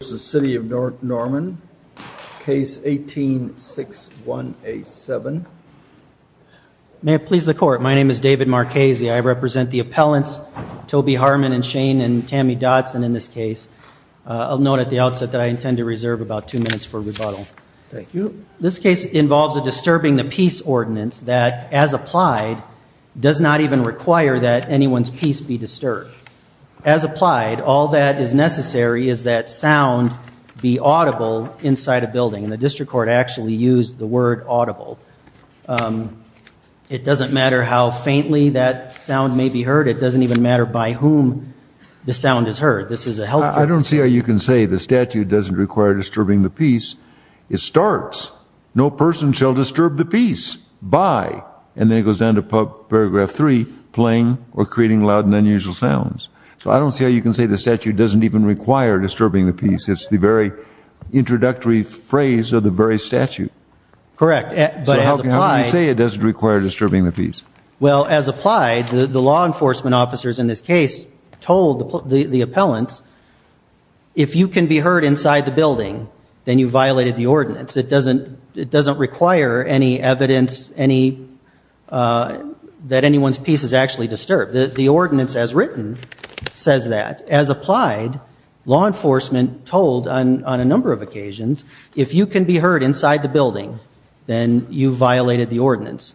versus City of Norman, case 18-6187. May it please the court, my name is David Marchese, I represent the appellants Toby Harmon and Shane and Tammy Dodson in this case. I'll note at the outset that I intend to reserve about two minutes for rebuttal. Thank you. This case involves a disturbing the peace ordinance that, as applied, does not even require that anyone's peace be disturbed. As applied, all that is necessary is that sound be audible inside a building. The district court actually used the word audible. It doesn't matter how faintly that sound may be heard, it doesn't even matter by whom the sound is heard. I don't see how you can say the statute doesn't require disturbing the peace. It starts, no person shall disturb the peace by, and then it goes down to paragraph 3, playing or creating loud and unusual sounds. So I don't see how you can say the statute doesn't even require disturbing the peace. It's the very introductory phrase of the very statute. Correct. But as applied. So how can you say it doesn't require disturbing the peace? Well, as applied, the law enforcement officers in this case told the appellants, if you can be heard inside the building, then you violated the ordinance. It doesn't require any evidence that anyone's peace is actually disturbed. The ordinance as written says that. As applied, law enforcement told on a number of occasions, if you can be heard inside the building, then you violated the ordinance.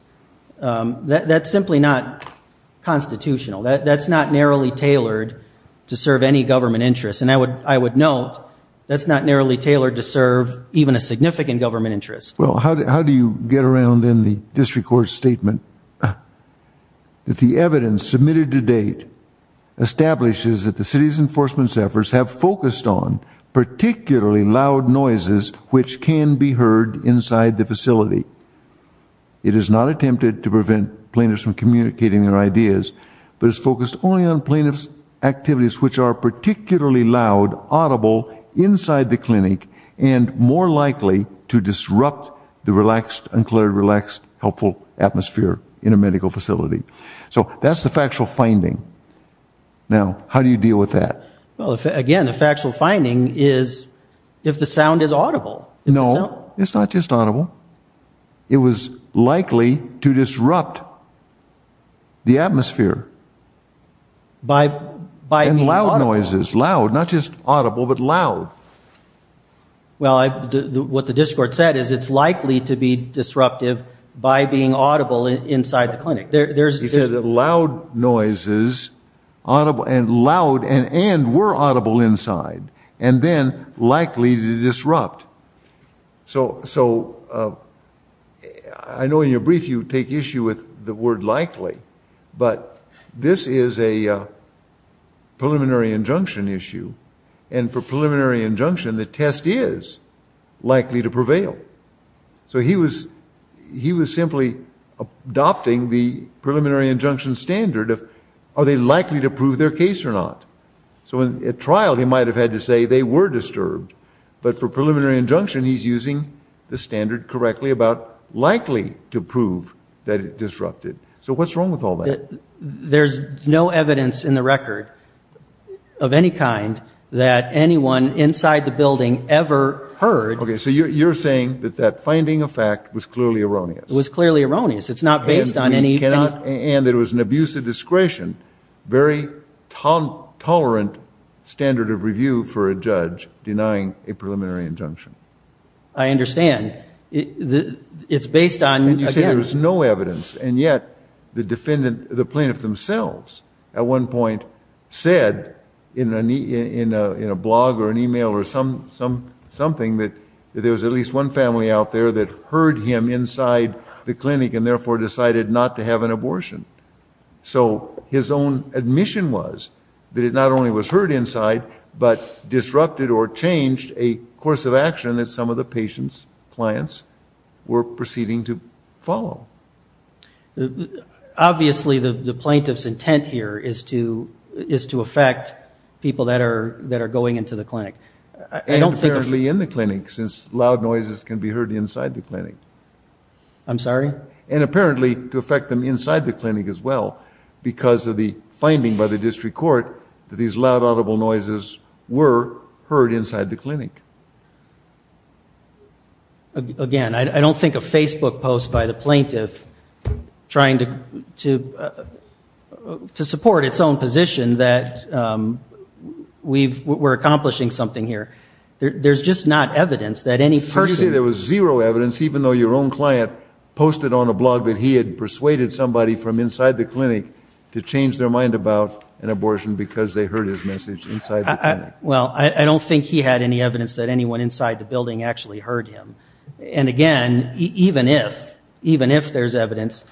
That's simply not constitutional. That's not narrowly tailored to serve any government interest. And I would note, that's not narrowly tailored to serve even a significant government interest. Well, how do you get around then the district court's statement that the evidence submitted to date establishes that the city's enforcement staffers have focused on particularly loud noises which can be heard inside the facility. It is not attempted to prevent plaintiffs from communicating their ideas, but it's focused only on plaintiffs' activities which are particularly loud, audible, inside the clinic, and more likely to disrupt the relaxed, unclear, relaxed, helpful atmosphere in a medical facility. So that's the factual finding. Now, how do you deal with that? Well, again, the factual finding is if the sound is audible. No, it's not just audible. It was likely to disrupt the atmosphere. By being audible. And loud noises, loud, not just audible, but loud. Well, what the district court said is it's likely to be disruptive by being audible inside the clinic. He said that loud noises, and were audible inside, and then likely to disrupt. So I know in your brief you take issue with the word likely, but this is a preliminary injunction issue, and for preliminary injunction the test is likely to prevail. So he was simply adopting the preliminary injunction standard of are they likely to prove their case or not? So at trial he might have had to say they were disturbed, but for preliminary injunction he's using the standard correctly about likely to prove that it disrupted. So what's wrong with all that? There's no evidence in the record of any kind that anyone inside the building ever heard. Okay, so you're saying that that finding of fact was clearly erroneous. It was clearly erroneous. It's not based on any... And it was an abuse of discretion, very tolerant standard of review for a judge denying a preliminary injunction. I understand. It's based on... And yet the defendant, the plaintiff themselves, at one point said in a blog or an email or something that there was at least one family out there that heard him inside the clinic and therefore decided not to have an abortion. So his own admission was that it not only was heard inside, but disrupted or changed a course of action that some of the patient's clients were proceeding to follow. Obviously the plaintiff's intent here is to affect people that are going into the clinic. And apparently in the clinic, since loud noises can be heard inside the clinic. I'm sorry? And apparently to affect them inside the clinic as well, because of the finding by the district court that these loud audible noises were heard inside the clinic. Again, I don't think a Facebook post by the plaintiff trying to support its own position that we're accomplishing something here. There's just not evidence that any person... So you're saying there was zero evidence, even though your own client posted on a blog that he had persuaded somebody from inside the clinic to change their mind about an abortion because they heard his message inside the clinic. Well, I don't think he had any evidence that anyone inside the building actually heard him. And again, even if there's evidence,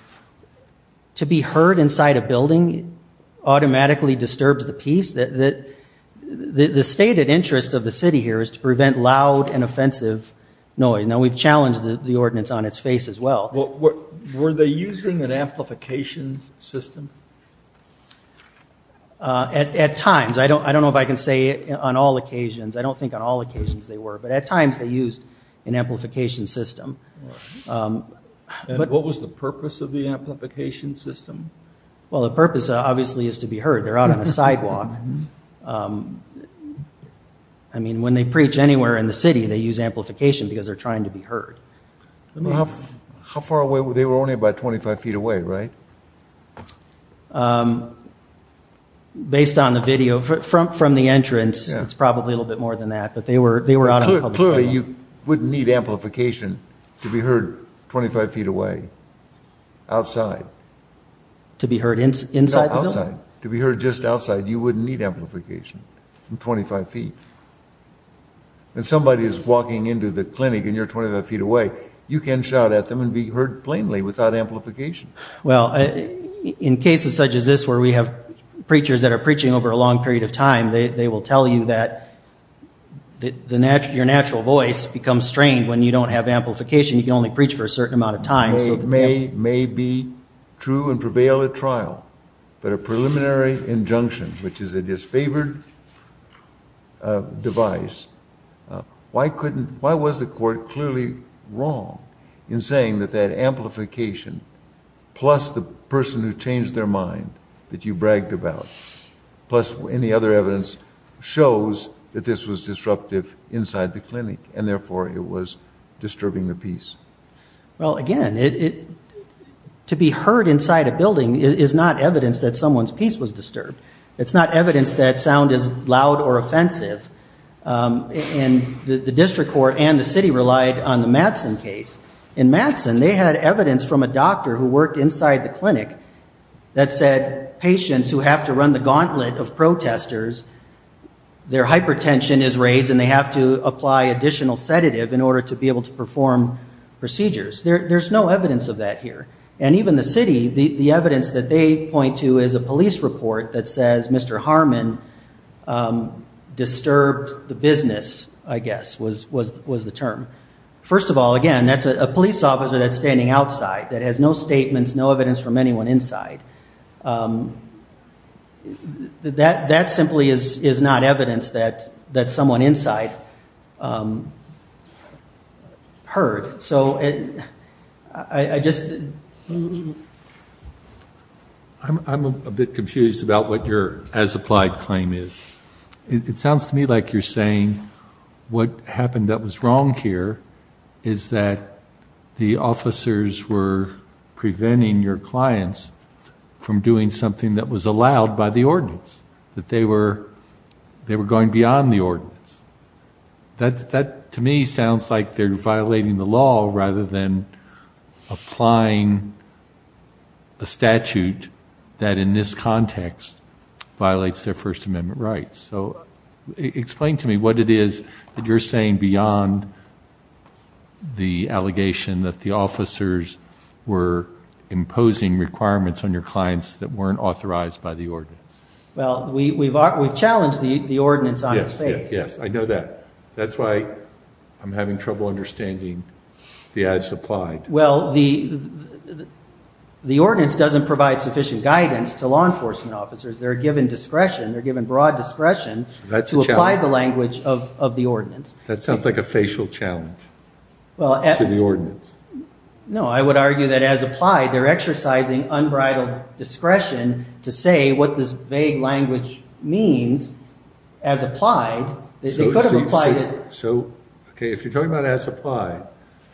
to be heard inside a building automatically disturbs the peace. The stated interest of the city here is to prevent loud and offensive noise. Now, we've challenged the ordinance on its face as well. Were they using an amplification system? At times. I don't know if I can say on all occasions. I don't think on all occasions they were. But at times they used an amplification system. And what was the purpose of the amplification system? They're out on the sidewalk. I mean, when they preach anywhere in the city, they use amplification because they're trying to be heard. How far away? They were only about 25 feet away, right? Based on the video from the entrance, it's probably a little bit more than that. But they were out on the public sidewalk. Clearly, you wouldn't need amplification to be heard 25 feet away, outside. To be heard inside the building? No, outside. To be heard just outside, you wouldn't need amplification from 25 feet. When somebody is walking into the clinic and you're 25 feet away, you can shout at them and be heard plainly without amplification. Well, in cases such as this where we have preachers that are preaching over a long period of time, they will tell you that your natural voice becomes strained when you don't have amplification. You can only preach for a certain amount of time. It may be true and prevail at trial, but a preliminary injunction, which is a disfavored device, why was the court clearly wrong in saying that that amplification, plus the person who changed their mind that you bragged about, plus any other evidence shows that this was disruptive inside the clinic, and therefore it was disturbing the peace? Well, again, to be heard inside a building is not evidence that someone's peace was disturbed. It's not evidence that sound is loud or offensive. And the district court and the city relied on the Madsen case. In Madsen, they had evidence from a doctor who worked inside the clinic that said, patients who have to run the gauntlet of protesters, their hypertension is raised and they have to apply additional sedative in order to be able to perform procedures. There's no evidence of that here. And even the city, the evidence that they point to is a police report that says, Mr. Harmon disturbed the business, I guess, was the term. First of all, again, that's a police officer that's standing outside that has no statements, no evidence from anyone inside. That simply is not evidence that someone inside heard. So I just... I'm a bit confused about what your as-applied claim is. It sounds to me like you're saying what happened that was wrong here is that the officers were preventing your clients from doing something that was allowed by the ordinance, that they were going beyond the ordinance. That, to me, sounds like they're violating the law rather than applying a statute that, in this context, violates their First Amendment rights. So explain to me what it is that you're saying beyond the allegation that the officers were imposing requirements on your clients that weren't authorized by the ordinance. Well, we've challenged the ordinance on its face. Yes, yes, yes. I know that. That's why I'm having trouble understanding the as-applied. Well, the ordinance doesn't provide sufficient guidance to law enforcement officers. They're given discretion, they're given broad discretion to apply the language of the ordinance. That sounds like a facial challenge to the ordinance. No, I would argue that as-applied, they're exercising unbridled discretion to say what this vague language means, as-applied, that they could have applied it. So, okay, if you're talking about as-applied,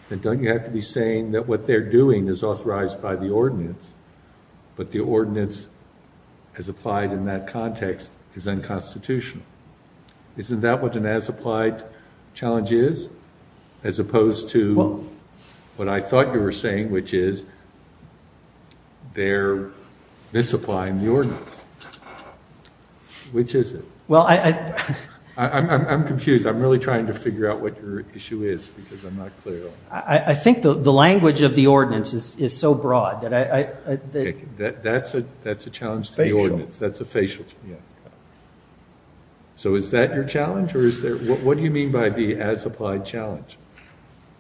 then don't you have to be saying that what they're doing is authorized by the ordinance, but the ordinance, as applied in that context, is unconstitutional? Isn't that what an as-applied challenge is, as opposed to what I thought you were saying, which is they're misapplying the ordinance? Which is it? I'm confused. I'm really trying to figure out what your issue is because I'm not clear. I think the language of the ordinance is so broad. That's a challenge to the ordinance. That's a facial challenge. So is that your challenge? What do you mean by the as-applied challenge?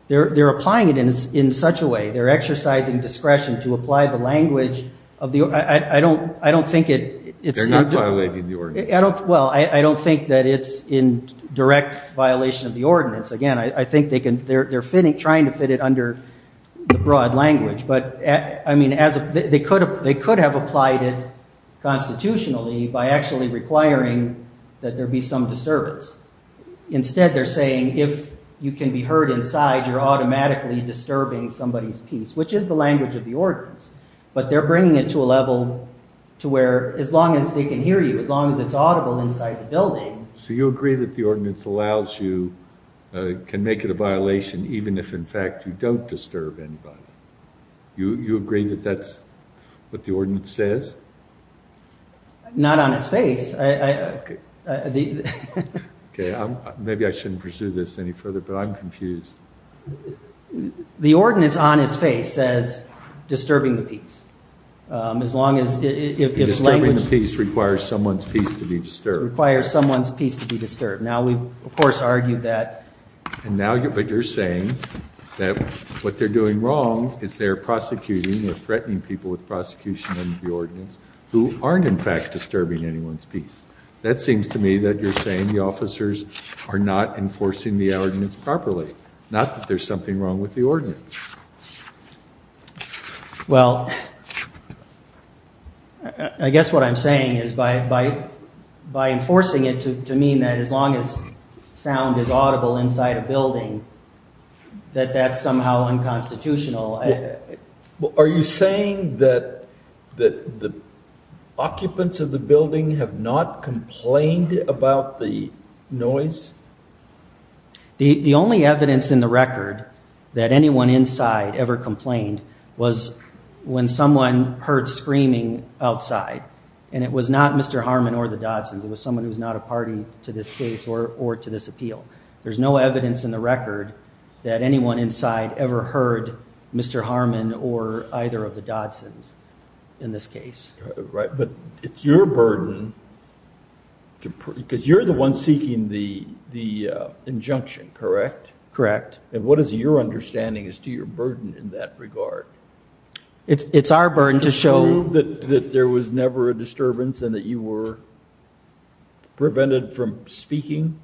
They're applying it in such a way. They're exercising discretion to apply the language of the ordinance. I don't think it's not. They're not violating the ordinance. Well, I don't think that it's in direct violation of the ordinance. Again, I think they're trying to fit it under the broad language. But, I mean, they could have applied it constitutionally by actually requiring that there be some disturbance. Instead, they're saying if you can be heard inside, you're automatically disturbing somebody's peace, which is the language of the ordinance. But they're bringing it to a level to where as long as they can hear you, as long as it's audible inside the building. So you agree that the ordinance allows you, can make it a violation even if, in fact, you don't disturb anybody? You agree that that's what the ordinance says? Not on its face. Okay, maybe I shouldn't pursue this any further, but I'm confused. The ordinance on its face says disturbing the peace. As long as it's language. Disturbing the peace requires someone's peace to be disturbed. Requires someone's peace to be disturbed. Now we've, of course, argued that. And now you're saying that what they're doing wrong is they're prosecuting or threatening people with prosecution under the ordinance who aren't, in fact, disturbing anyone's peace. That seems to me that you're saying the officers are not enforcing the ordinance properly. Not that there's something wrong with the ordinance. Well, I guess what I'm saying is by enforcing it to mean that as long as sound is audible inside a building, that that's somehow unconstitutional. Are you saying that the occupants of the building have not complained about the noise? The only evidence in the record that anyone inside ever complained was when someone heard screaming outside. And it was not Mr. Harmon or the Dodsons. It was someone who's not a party to this case or to this appeal. There's no evidence in the record that anyone inside ever heard Mr. Harmon or either of the Dodsons in this case. But it's your burden, because you're the one seeking the injunction, correct? Correct. And what is your understanding as to your burden in that regard? It's our burden to show... Is it true that there was never a disturbance and that you were prevented from speaking?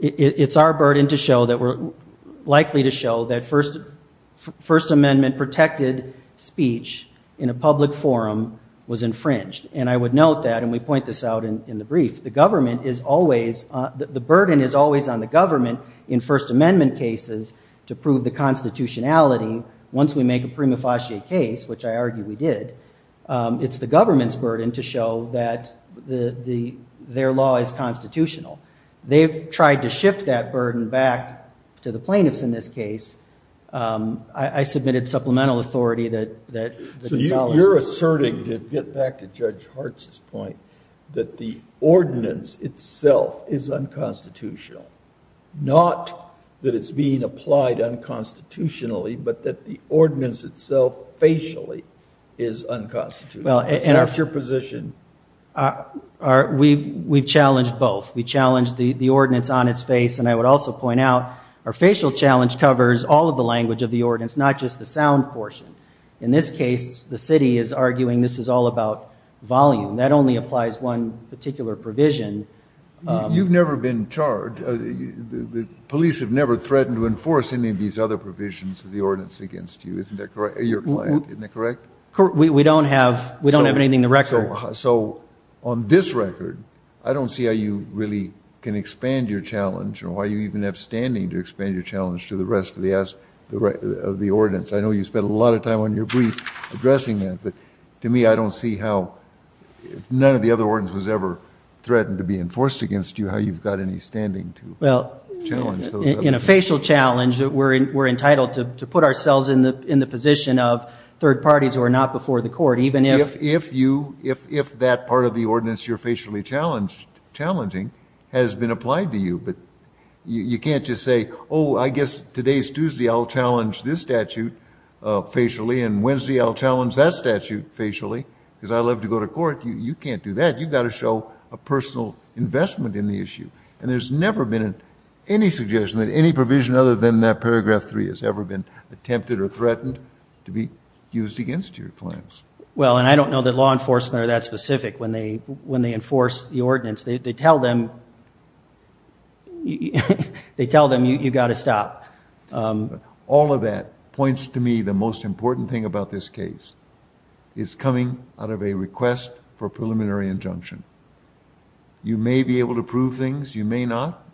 It's our burden to show that we're likely to show that First Amendment protected speech in a public forum was infringed. And I would note that, and we point this out in the brief, the burden is always on the government in First Amendment cases to prove the constitutionality. Once we make a prima facie case, which I argue we did, it's the government's burden to show that their law is constitutional. They've tried to shift that burden back to the plaintiffs in this case. I submitted supplemental authority that... So you're asserting, to get back to Judge Hartz's point, that the ordinance itself is unconstitutional. Not that it's being applied unconstitutionally, but that the ordinance itself facially is unconstitutional. Is that your position? We've challenged both. We challenged the ordinance on its face, and I would also point out our facial challenge covers all of the language of the ordinance, not just the sound portion. In this case, the city is arguing this is all about volume. That only applies one particular provision. You've never been charged. The police have never threatened to enforce any of these other provisions of the ordinance against you, isn't that correct? Your client, isn't that correct? We don't have anything in the record. So on this record, I don't see how you really can expand your challenge or why you even have standing to expand your challenge to the rest of the ordinance. I know you spent a lot of time on your brief addressing that, but to me, I don't see how none of the other ordinances ever threatened to be enforced against you, how you've got any standing to challenge those other things. In a facial challenge, we're entitled to put ourselves in the position of third parties who are not before the court, even if... ...has been applied to you. But you can't just say, oh, I guess today's Tuesday I'll challenge this statute facially and Wednesday I'll challenge that statute facially because I'd love to go to court. You can't do that. You've got to show a personal investment in the issue. And there's never been any suggestion that any provision other than that paragraph 3 has ever been attempted or threatened to be used against your clients. Well, and I don't know that law enforcement are that specific when they enforce the ordinance. They tell them you've got to stop. All of that points to me the most important thing about this case is coming out of a request for a preliminary injunction. You may be able to prove things. You may not.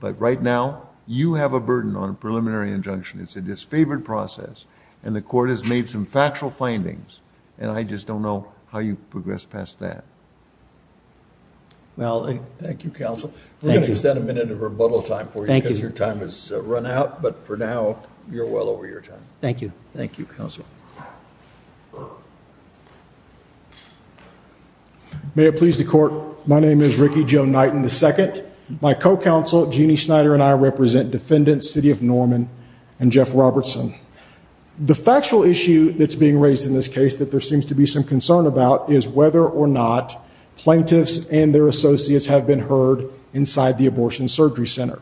But right now, you have a burden on a preliminary injunction. It's a disfavored process. And the court has made some factual findings. And I just don't know how you progress past that. Thank you, counsel. We're going to extend a minute of rebuttal time for you because your time has run out. But for now, you're well over your time. Thank you. Thank you, counsel. May it please the court, my name is Ricky Joe Knighton II. My co-counsel, Jeannie Snyder, and I represent defendants, City of Norman and Jeff Robertson. The factual issue that's being raised in this case that there seems to be some concern about is whether or not plaintiffs and their associates have been heard inside the abortion surgery center.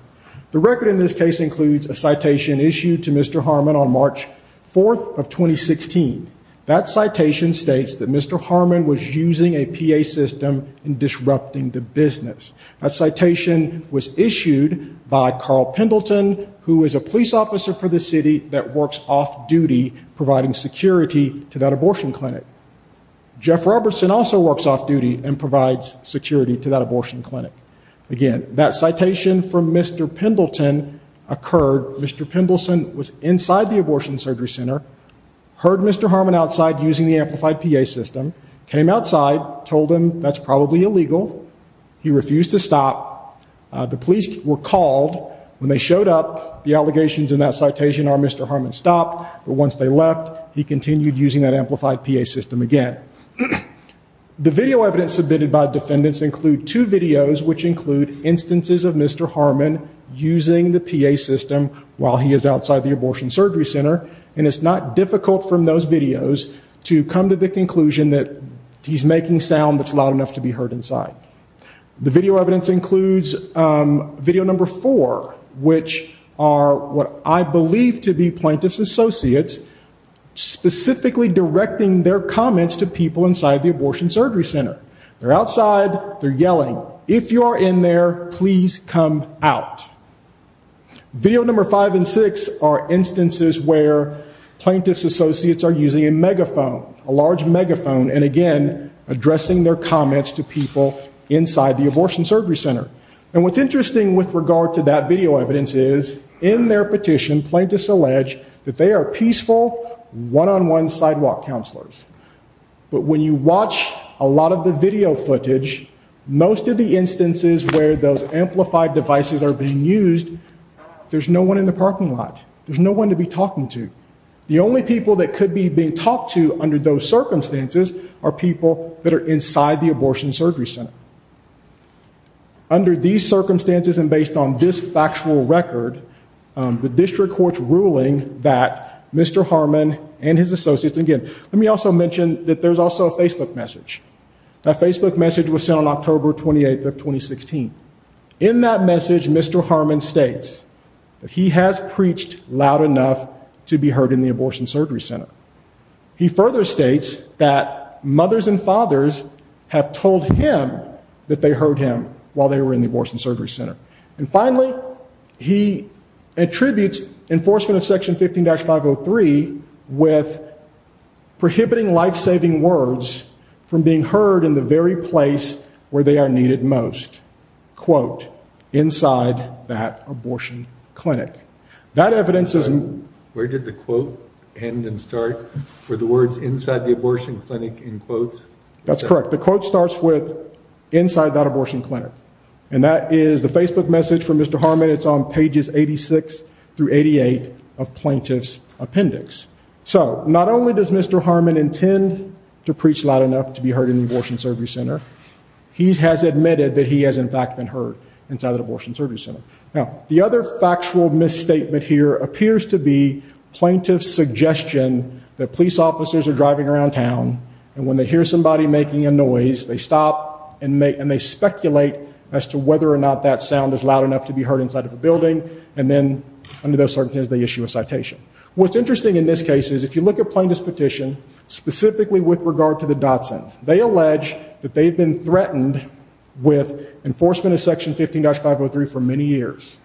The record in this case includes a citation issued to Mr. Harmon on March 4th of 2016. That citation states that Mr. Harmon was using a PA system in disrupting the business. That citation was issued by Carl Pendleton, who is a police officer for the city that works off-duty providing security to that abortion clinic. Jeff Robertson also works off-duty and provides security to that abortion clinic. Again, that citation from Mr. Pendleton occurred. Mr. Pendleton was inside the abortion surgery center, heard Mr. Harmon outside using the amplified PA system, came outside, told him that's probably illegal. He refused to stop. The police were called. When they showed up, the allegations in that citation are Mr. Harmon stopped. But once they left, he continued using that amplified PA system again. The video evidence submitted by defendants include two videos, which include instances of Mr. Harmon using the PA system while he is outside the abortion surgery center. And it's not difficult from those videos to come to the conclusion that he's making sound that's loud enough to be heard inside. The video evidence includes video number four, which are what I believe to be plaintiff's associates specifically directing their comments to people inside the abortion surgery center. They're outside. They're yelling, if you are in there, please come out. Video number five and six are instances where plaintiff's associates are using a megaphone, a large megaphone, and again, addressing their comments to people inside the abortion surgery center. And what's interesting with regard to that video evidence is in their petition, plaintiffs allege that they are peaceful, one-on-one sidewalk counselors. But when you watch a lot of the video footage, most of the instances where those amplified devices are being used, there's no one in the parking lot. There's no one to be talking to. The only people that could be being talked to under those circumstances are people that are inside the abortion surgery center. Under these circumstances and based on this factual record, the district court's ruling that Mr. Harmon and his associates, and again, let me also mention that there's also a Facebook message. That Facebook message was sent on October 28th of 2016. In that message, Mr. Harmon states that he has preached loud enough to be heard in the abortion surgery center. He further states that mothers and fathers have told him that they heard him while they were in the abortion surgery center. And finally, he attributes enforcement of section 15-503 with prohibiting life-saving words from being heard in the very place where they are needed most. Quote, inside that abortion clinic. Where did the quote end and start? Were the words inside the abortion clinic in quotes? That's correct. The quote starts with, inside that abortion clinic. And that is the Facebook message from Mr. Harmon. It's on pages 86 through 88 of plaintiff's appendix. So, not only does Mr. Harmon intend to preach loud enough to be heard in the abortion surgery center, he has admitted that he has in fact been heard inside the abortion surgery center. Now, the other factual misstatement here appears to be plaintiff's suggestion that police officers are driving around town. And when they hear somebody making a noise, they stop and they speculate as to whether or not that sound is loud enough to be heard inside of a building. And then, under those circumstances, they issue a citation. What's interesting in this case is if you look at plaintiff's petition, specifically with regard to the Dotson's. They allege that they've been threatened with enforcement of section 15-503 for many years.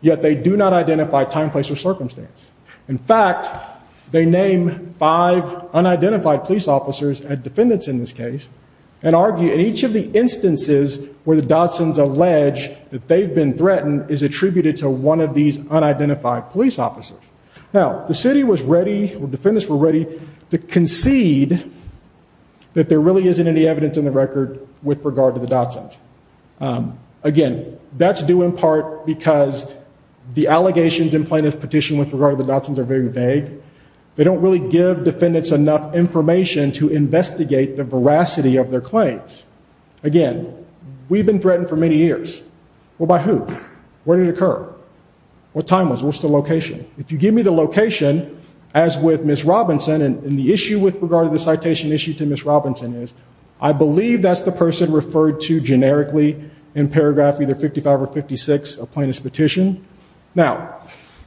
Yet, they do not identify time, place, or circumstance. In fact, they name five unidentified police officers, and defendants in this case, and argue in each of the instances where the Dotson's allege that they've been threatened is attributed to one of these unidentified police officers. Now, the city was ready, or defendants were ready, to concede that there really isn't any evidence in the record with regard to the Dotson's. Again, that's due in part because the allegations in plaintiff's petition with regard to the Dotson's are very vague. They don't really give defendants enough information to investigate the veracity of their claims. Again, we've been threatened for many years. Well, by who? Where did it occur? What time was it? What was the location? If you give me the location, as with Ms. Robinson, and the issue with regard to the citation issue to Ms. Robinson is, I believe that's the person referred to generically in paragraph either 55 or 56 of plaintiff's petition. Now,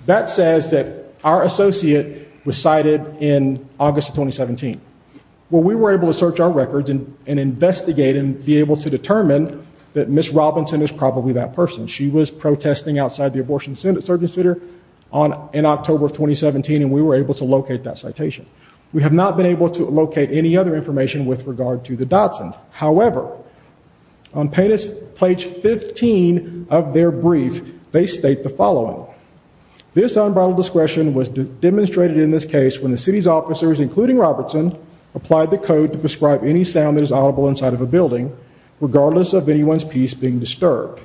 that says that our associate was cited in August of 2017. Well, we were able to search our records and investigate and be able to determine that Ms. Robinson is probably that person. She was protesting outside the abortion center in October of 2017, and we were able to locate that citation. We have not been able to locate any other information with regard to the Dotson's. However, on plaintiff's page 15 of their brief, they state the following. This unbridled discretion was demonstrated in this case when the city's officers, including Robertson, applied the code to prescribe any sound that is audible inside of a building, regardless of anyone's piece being disturbed.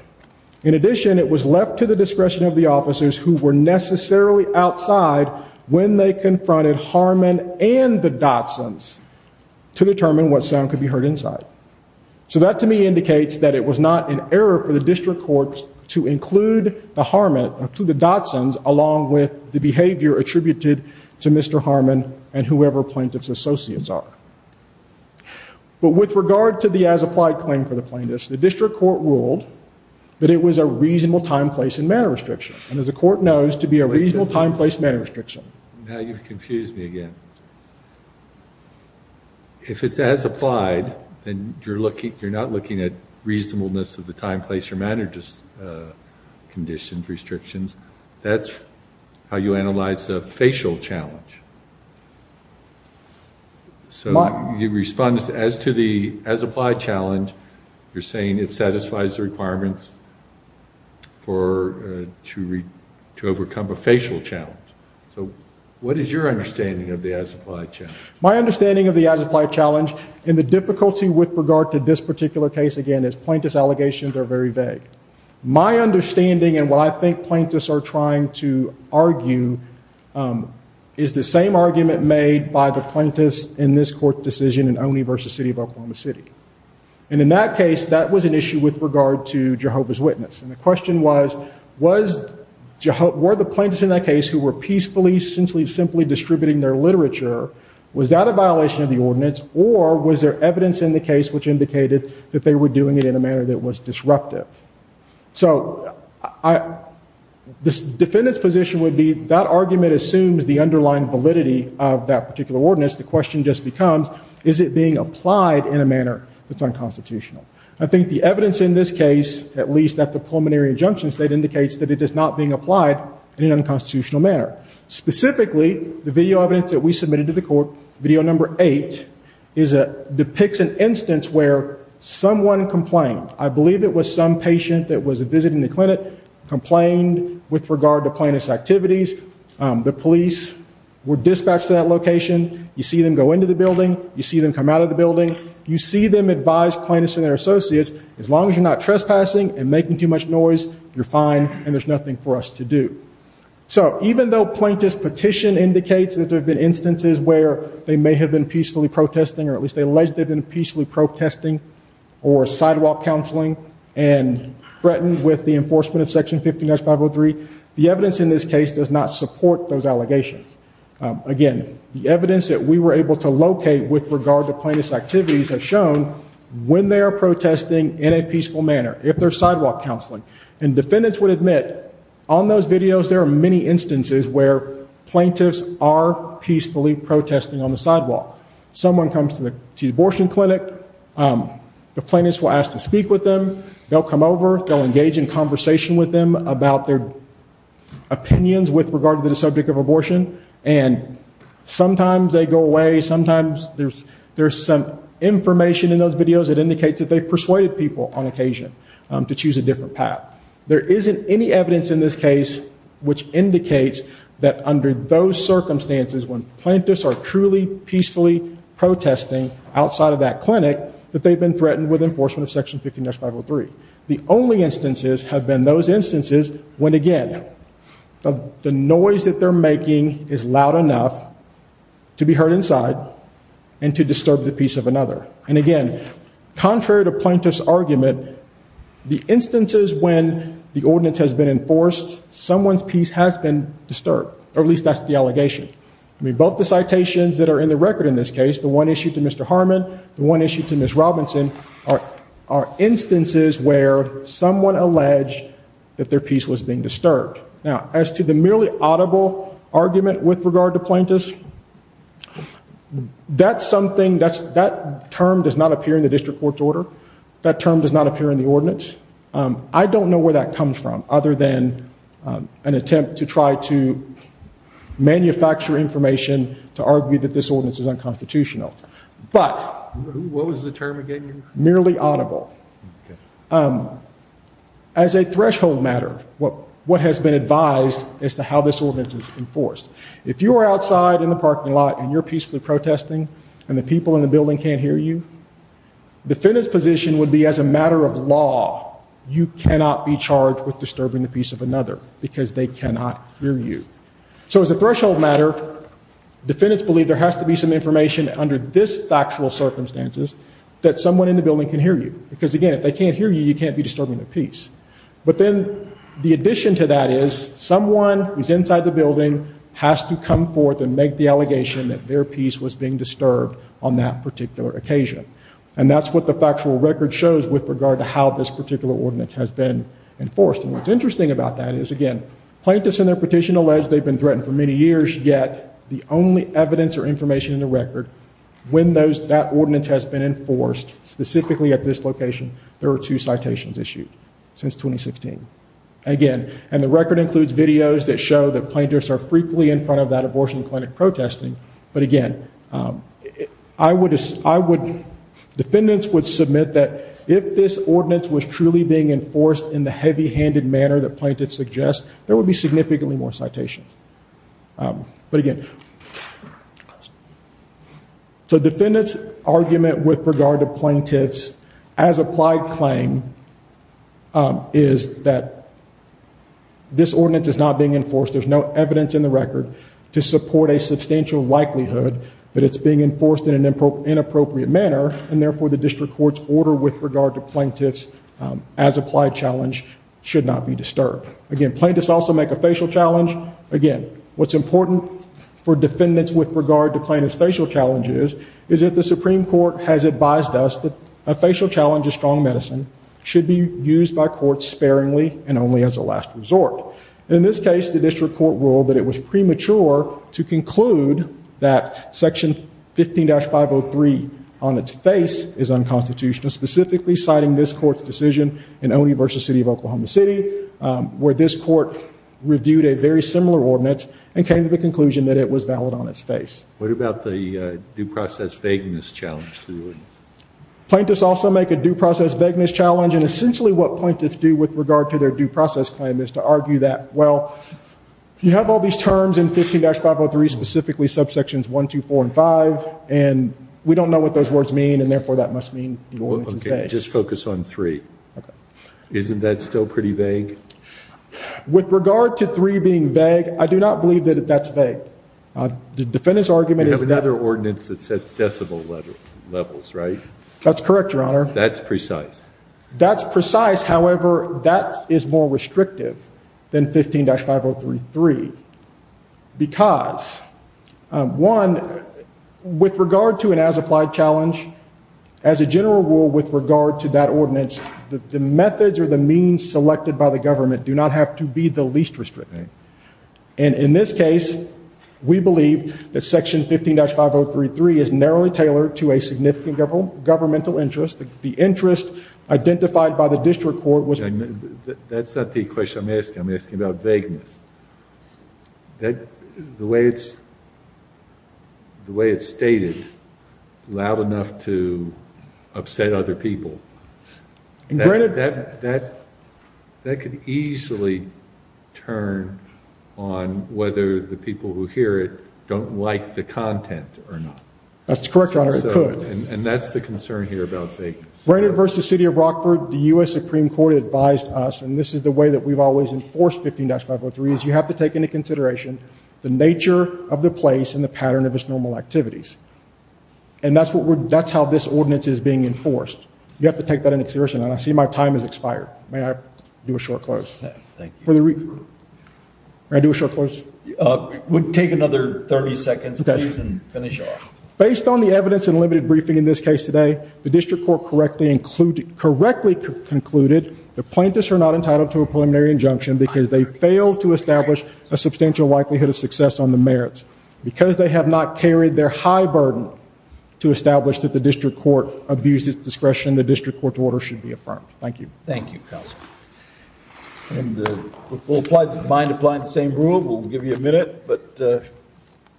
In addition, it was left to the discretion of the officers who were necessarily outside when they confronted Harmon and the Dotson's to determine what sound could be heard inside. So that to me indicates that it was not an error for the district court to include the Dotson's along with the behavior attributed to Mr. Harmon and whoever plaintiff's associates are. But with regard to the as-applied claim for the plaintiffs, the district court ruled that it was a reasonable time, place, and manner restriction. And as the court knows, to be a reasonable time, place, manner restriction. Now you've confused me again. If it's as-applied, then you're not looking at reasonableness of the time, place, or manner conditions, restrictions. That's how you analyze a facial challenge. So you respond as to the as-applied challenge. You're saying it satisfies the requirements to overcome a facial challenge. So what is your understanding of the as-applied challenge? My understanding of the as-applied challenge and the difficulty with regard to this particular case, again, is plaintiff's allegations are very vague. My understanding and what I think plaintiffs are trying to argue is the same argument made by the plaintiffs in this court's decision in Oney v. City of Oklahoma City. And in that case, that was an issue with regard to Jehovah's Witness. And the question was, were the plaintiffs in that case who were peacefully, simply distributing their literature, was that a violation of the ordinance? Or was there evidence in the case which indicated that they were doing it in a manner that was disruptive? So this defendant's position would be that argument assumes the underlying validity of that particular ordinance. The question just becomes, is it being applied in a manner that's unconstitutional? I think the evidence in this case, at least at the preliminary injunction state, indicates that it is not being applied in an unconstitutional manner. Specifically, the video evidence that we submitted to the court, video number eight, depicts an instance where someone complained. I believe it was some patient that was visiting the clinic, complained with regard to plaintiff's activities. The police were dispatched to that location. You see them go into the building. You see them come out of the building. You see them advise plaintiffs and their associates, as long as you're not trespassing and making too much noise, you're fine and there's nothing for us to do. So even though plaintiff's petition indicates that there have been instances where they may have been peacefully protesting, or at least they alleged they've been peacefully protesting or sidewalk counseling and threatened with the enforcement of Section 15-503, the evidence in this case does not support those allegations. Again, the evidence that we were able to locate with regard to plaintiff's activities has shown when they are protesting in a peaceful manner, if they're sidewalk counseling. And defendants would admit on those videos there are many instances where plaintiffs are peacefully protesting on the sidewalk. Someone comes to the abortion clinic. The plaintiffs will ask to speak with them. They'll come over. They'll engage in conversation with them about their opinions with regard to the subject of abortion. And sometimes they go away. Sometimes there's some information in those videos that indicates that they've persuaded people on occasion to choose a different path. There isn't any evidence in this case which indicates that under those circumstances, when plaintiffs are truly peacefully protesting outside of that clinic, that they've been threatened with enforcement of Section 15-503. The only instances have been those instances when, again, the noise that they're making is loud enough to be heard inside and to disturb the peace of another. And, again, contrary to plaintiff's argument, the instances when the ordinance has been enforced, someone's peace has been disturbed, or at least that's the allegation. I mean, both the citations that are in the record in this case, the one issued to Mr. Harmon, the one issued to Ms. Robinson, are instances where someone alleged that their peace was being disturbed. Now, as to the merely audible argument with regard to plaintiffs, that's something, that term does not appear in the district court's order. That term does not appear in the ordinance. I don't know where that comes from other than an attempt to try to manufacture information to argue that this ordinance is unconstitutional. But... What was the term again? Merely audible. As a threshold matter, what has been advised as to how this ordinance is enforced, if you are outside in the parking lot and you're peacefully protesting and the people in the building can't hear you, defendant's position would be, as a matter of law, you cannot be charged with disturbing the peace of another because they cannot hear you. So, as a threshold matter, defendants believe there has to be some information under this factual circumstances that someone in the building can hear you. Because, again, if they can't hear you, you can't be disturbing their peace. But then the addition to that is someone who's inside the building has to come forth and make the allegation that their peace was being disturbed on that particular occasion. And that's what the factual record shows with regard to how this particular ordinance has been enforced. And what's interesting about that is, again, plaintiffs in their petition allege they've been threatened for many years, yet the only evidence or information in the record when that ordinance has been enforced, specifically at this location, there are two citations issued since 2016. Again, and the record includes videos that show that plaintiffs are frequently in front of that abortion clinic protesting. But, again, defendants would submit that if this ordinance was truly being enforced in the heavy-handed manner that plaintiffs suggest, there would be significantly more citations. But, again, so defendants' argument with regard to plaintiffs' as-applied claim is that this ordinance is not being enforced. There's no evidence in the record to support a substantial likelihood that it's being enforced in an inappropriate manner. And, therefore, the district court's order with regard to plaintiffs' as-applied challenge should not be disturbed. Again, plaintiffs also make a facial challenge. Again, what's important for defendants with regard to plaintiffs' facial challenges is that the Supreme Court has advised us that a facial challenge of strong medicine should be used by courts sparingly and only as a last resort. In this case, the district court ruled that it was premature to conclude that Section 15-503 on its face is unconstitutional, specifically citing this court's decision in Oney v. City of Oklahoma City, where this court reviewed a very similar ordinance and came to the conclusion that it was valid on its face. What about the due process vagueness challenge to the ordinance? Plaintiffs also make a due process vagueness challenge. And, essentially, what plaintiffs do with regard to their due process claim is to argue that, well, you have all these terms in 15-503, specifically subsections 1, 2, 4, and 5, and we don't know what those words mean, and, therefore, that must mean the ordinance is vague. Okay, just focus on 3. Okay. Isn't that still pretty vague? With regard to 3 being vague, I do not believe that that's vague. The defendant's argument is that- You have another ordinance that sets decibel levels, right? That's correct, Your Honor. That's precise. That's precise. However, that is more restrictive than 15-503. Because, one, with regard to an as-applied challenge, as a general rule with regard to that ordinance, the methods or the means selected by the government do not have to be the least restricting. And, in this case, we believe that Section 15-503 is narrowly tailored to a significant governmental interest. The interest identified by the district court was- That's not the question I'm asking. I'm asking about vagueness. The way it's stated, loud enough to upset other people, that could easily turn on whether the people who hear it don't like the content or not. That's correct, Your Honor. And that's the concern here about vagueness. Brainerd v. City of Rockford, the U.S. Supreme Court advised us, and this is the way that we've always enforced 15-503, is you have to take into consideration the nature of the place and the pattern of its normal activities. And that's how this ordinance is being enforced. You have to take that into consideration. And I see my time has expired. May I do a short close? May I do a short close? Take another 30 seconds, please, and finish off. Based on the evidence and limited briefing in this case today, the district court correctly concluded that plaintiffs are not entitled to a preliminary injunction because they failed to establish a substantial likelihood of success on the merits. Because they have not carried their high burden to establish that the district court abused its discretion, the district court's order should be affirmed. Thank you. Thank you, counsel. Mind applying the same rule? We'll give you a minute.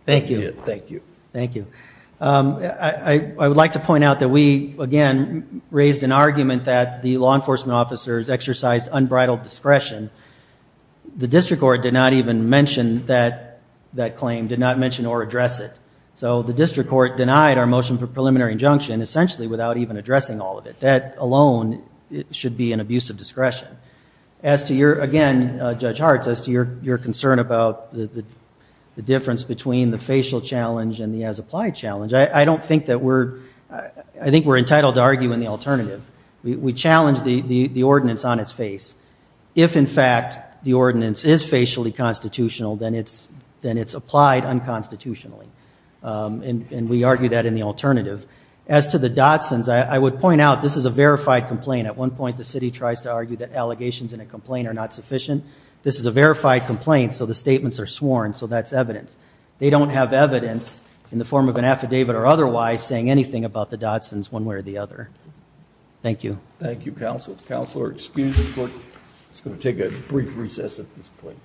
Thank you. Thank you. I would like to point out that we, again, raised an argument that the law enforcement officers exercised unbridled discretion. The district court did not even mention that claim, did not mention or address it. So the district court denied our motion for preliminary injunction essentially without even addressing all of it. That alone should be an abuse of discretion. Again, Judge Hartz, as to your concern about the difference between the facial challenge and the as-applied challenge, I think we're entitled to argue in the alternative. We challenge the ordinance on its face. If, in fact, the ordinance is facially constitutional, then it's applied unconstitutionally. And we argue that in the alternative. As to the Dotsons, I would point out this is a verified complaint. At one point, the city tries to argue that allegations in a complaint are not sufficient. This is a verified complaint, so the statements are sworn, so that's evidence. They don't have evidence in the form of an affidavit or otherwise saying anything about the Dotsons one way or the other. Thank you. Thank you, counsel. Counselor, excuse the court. It's going to take a brief recess at this point.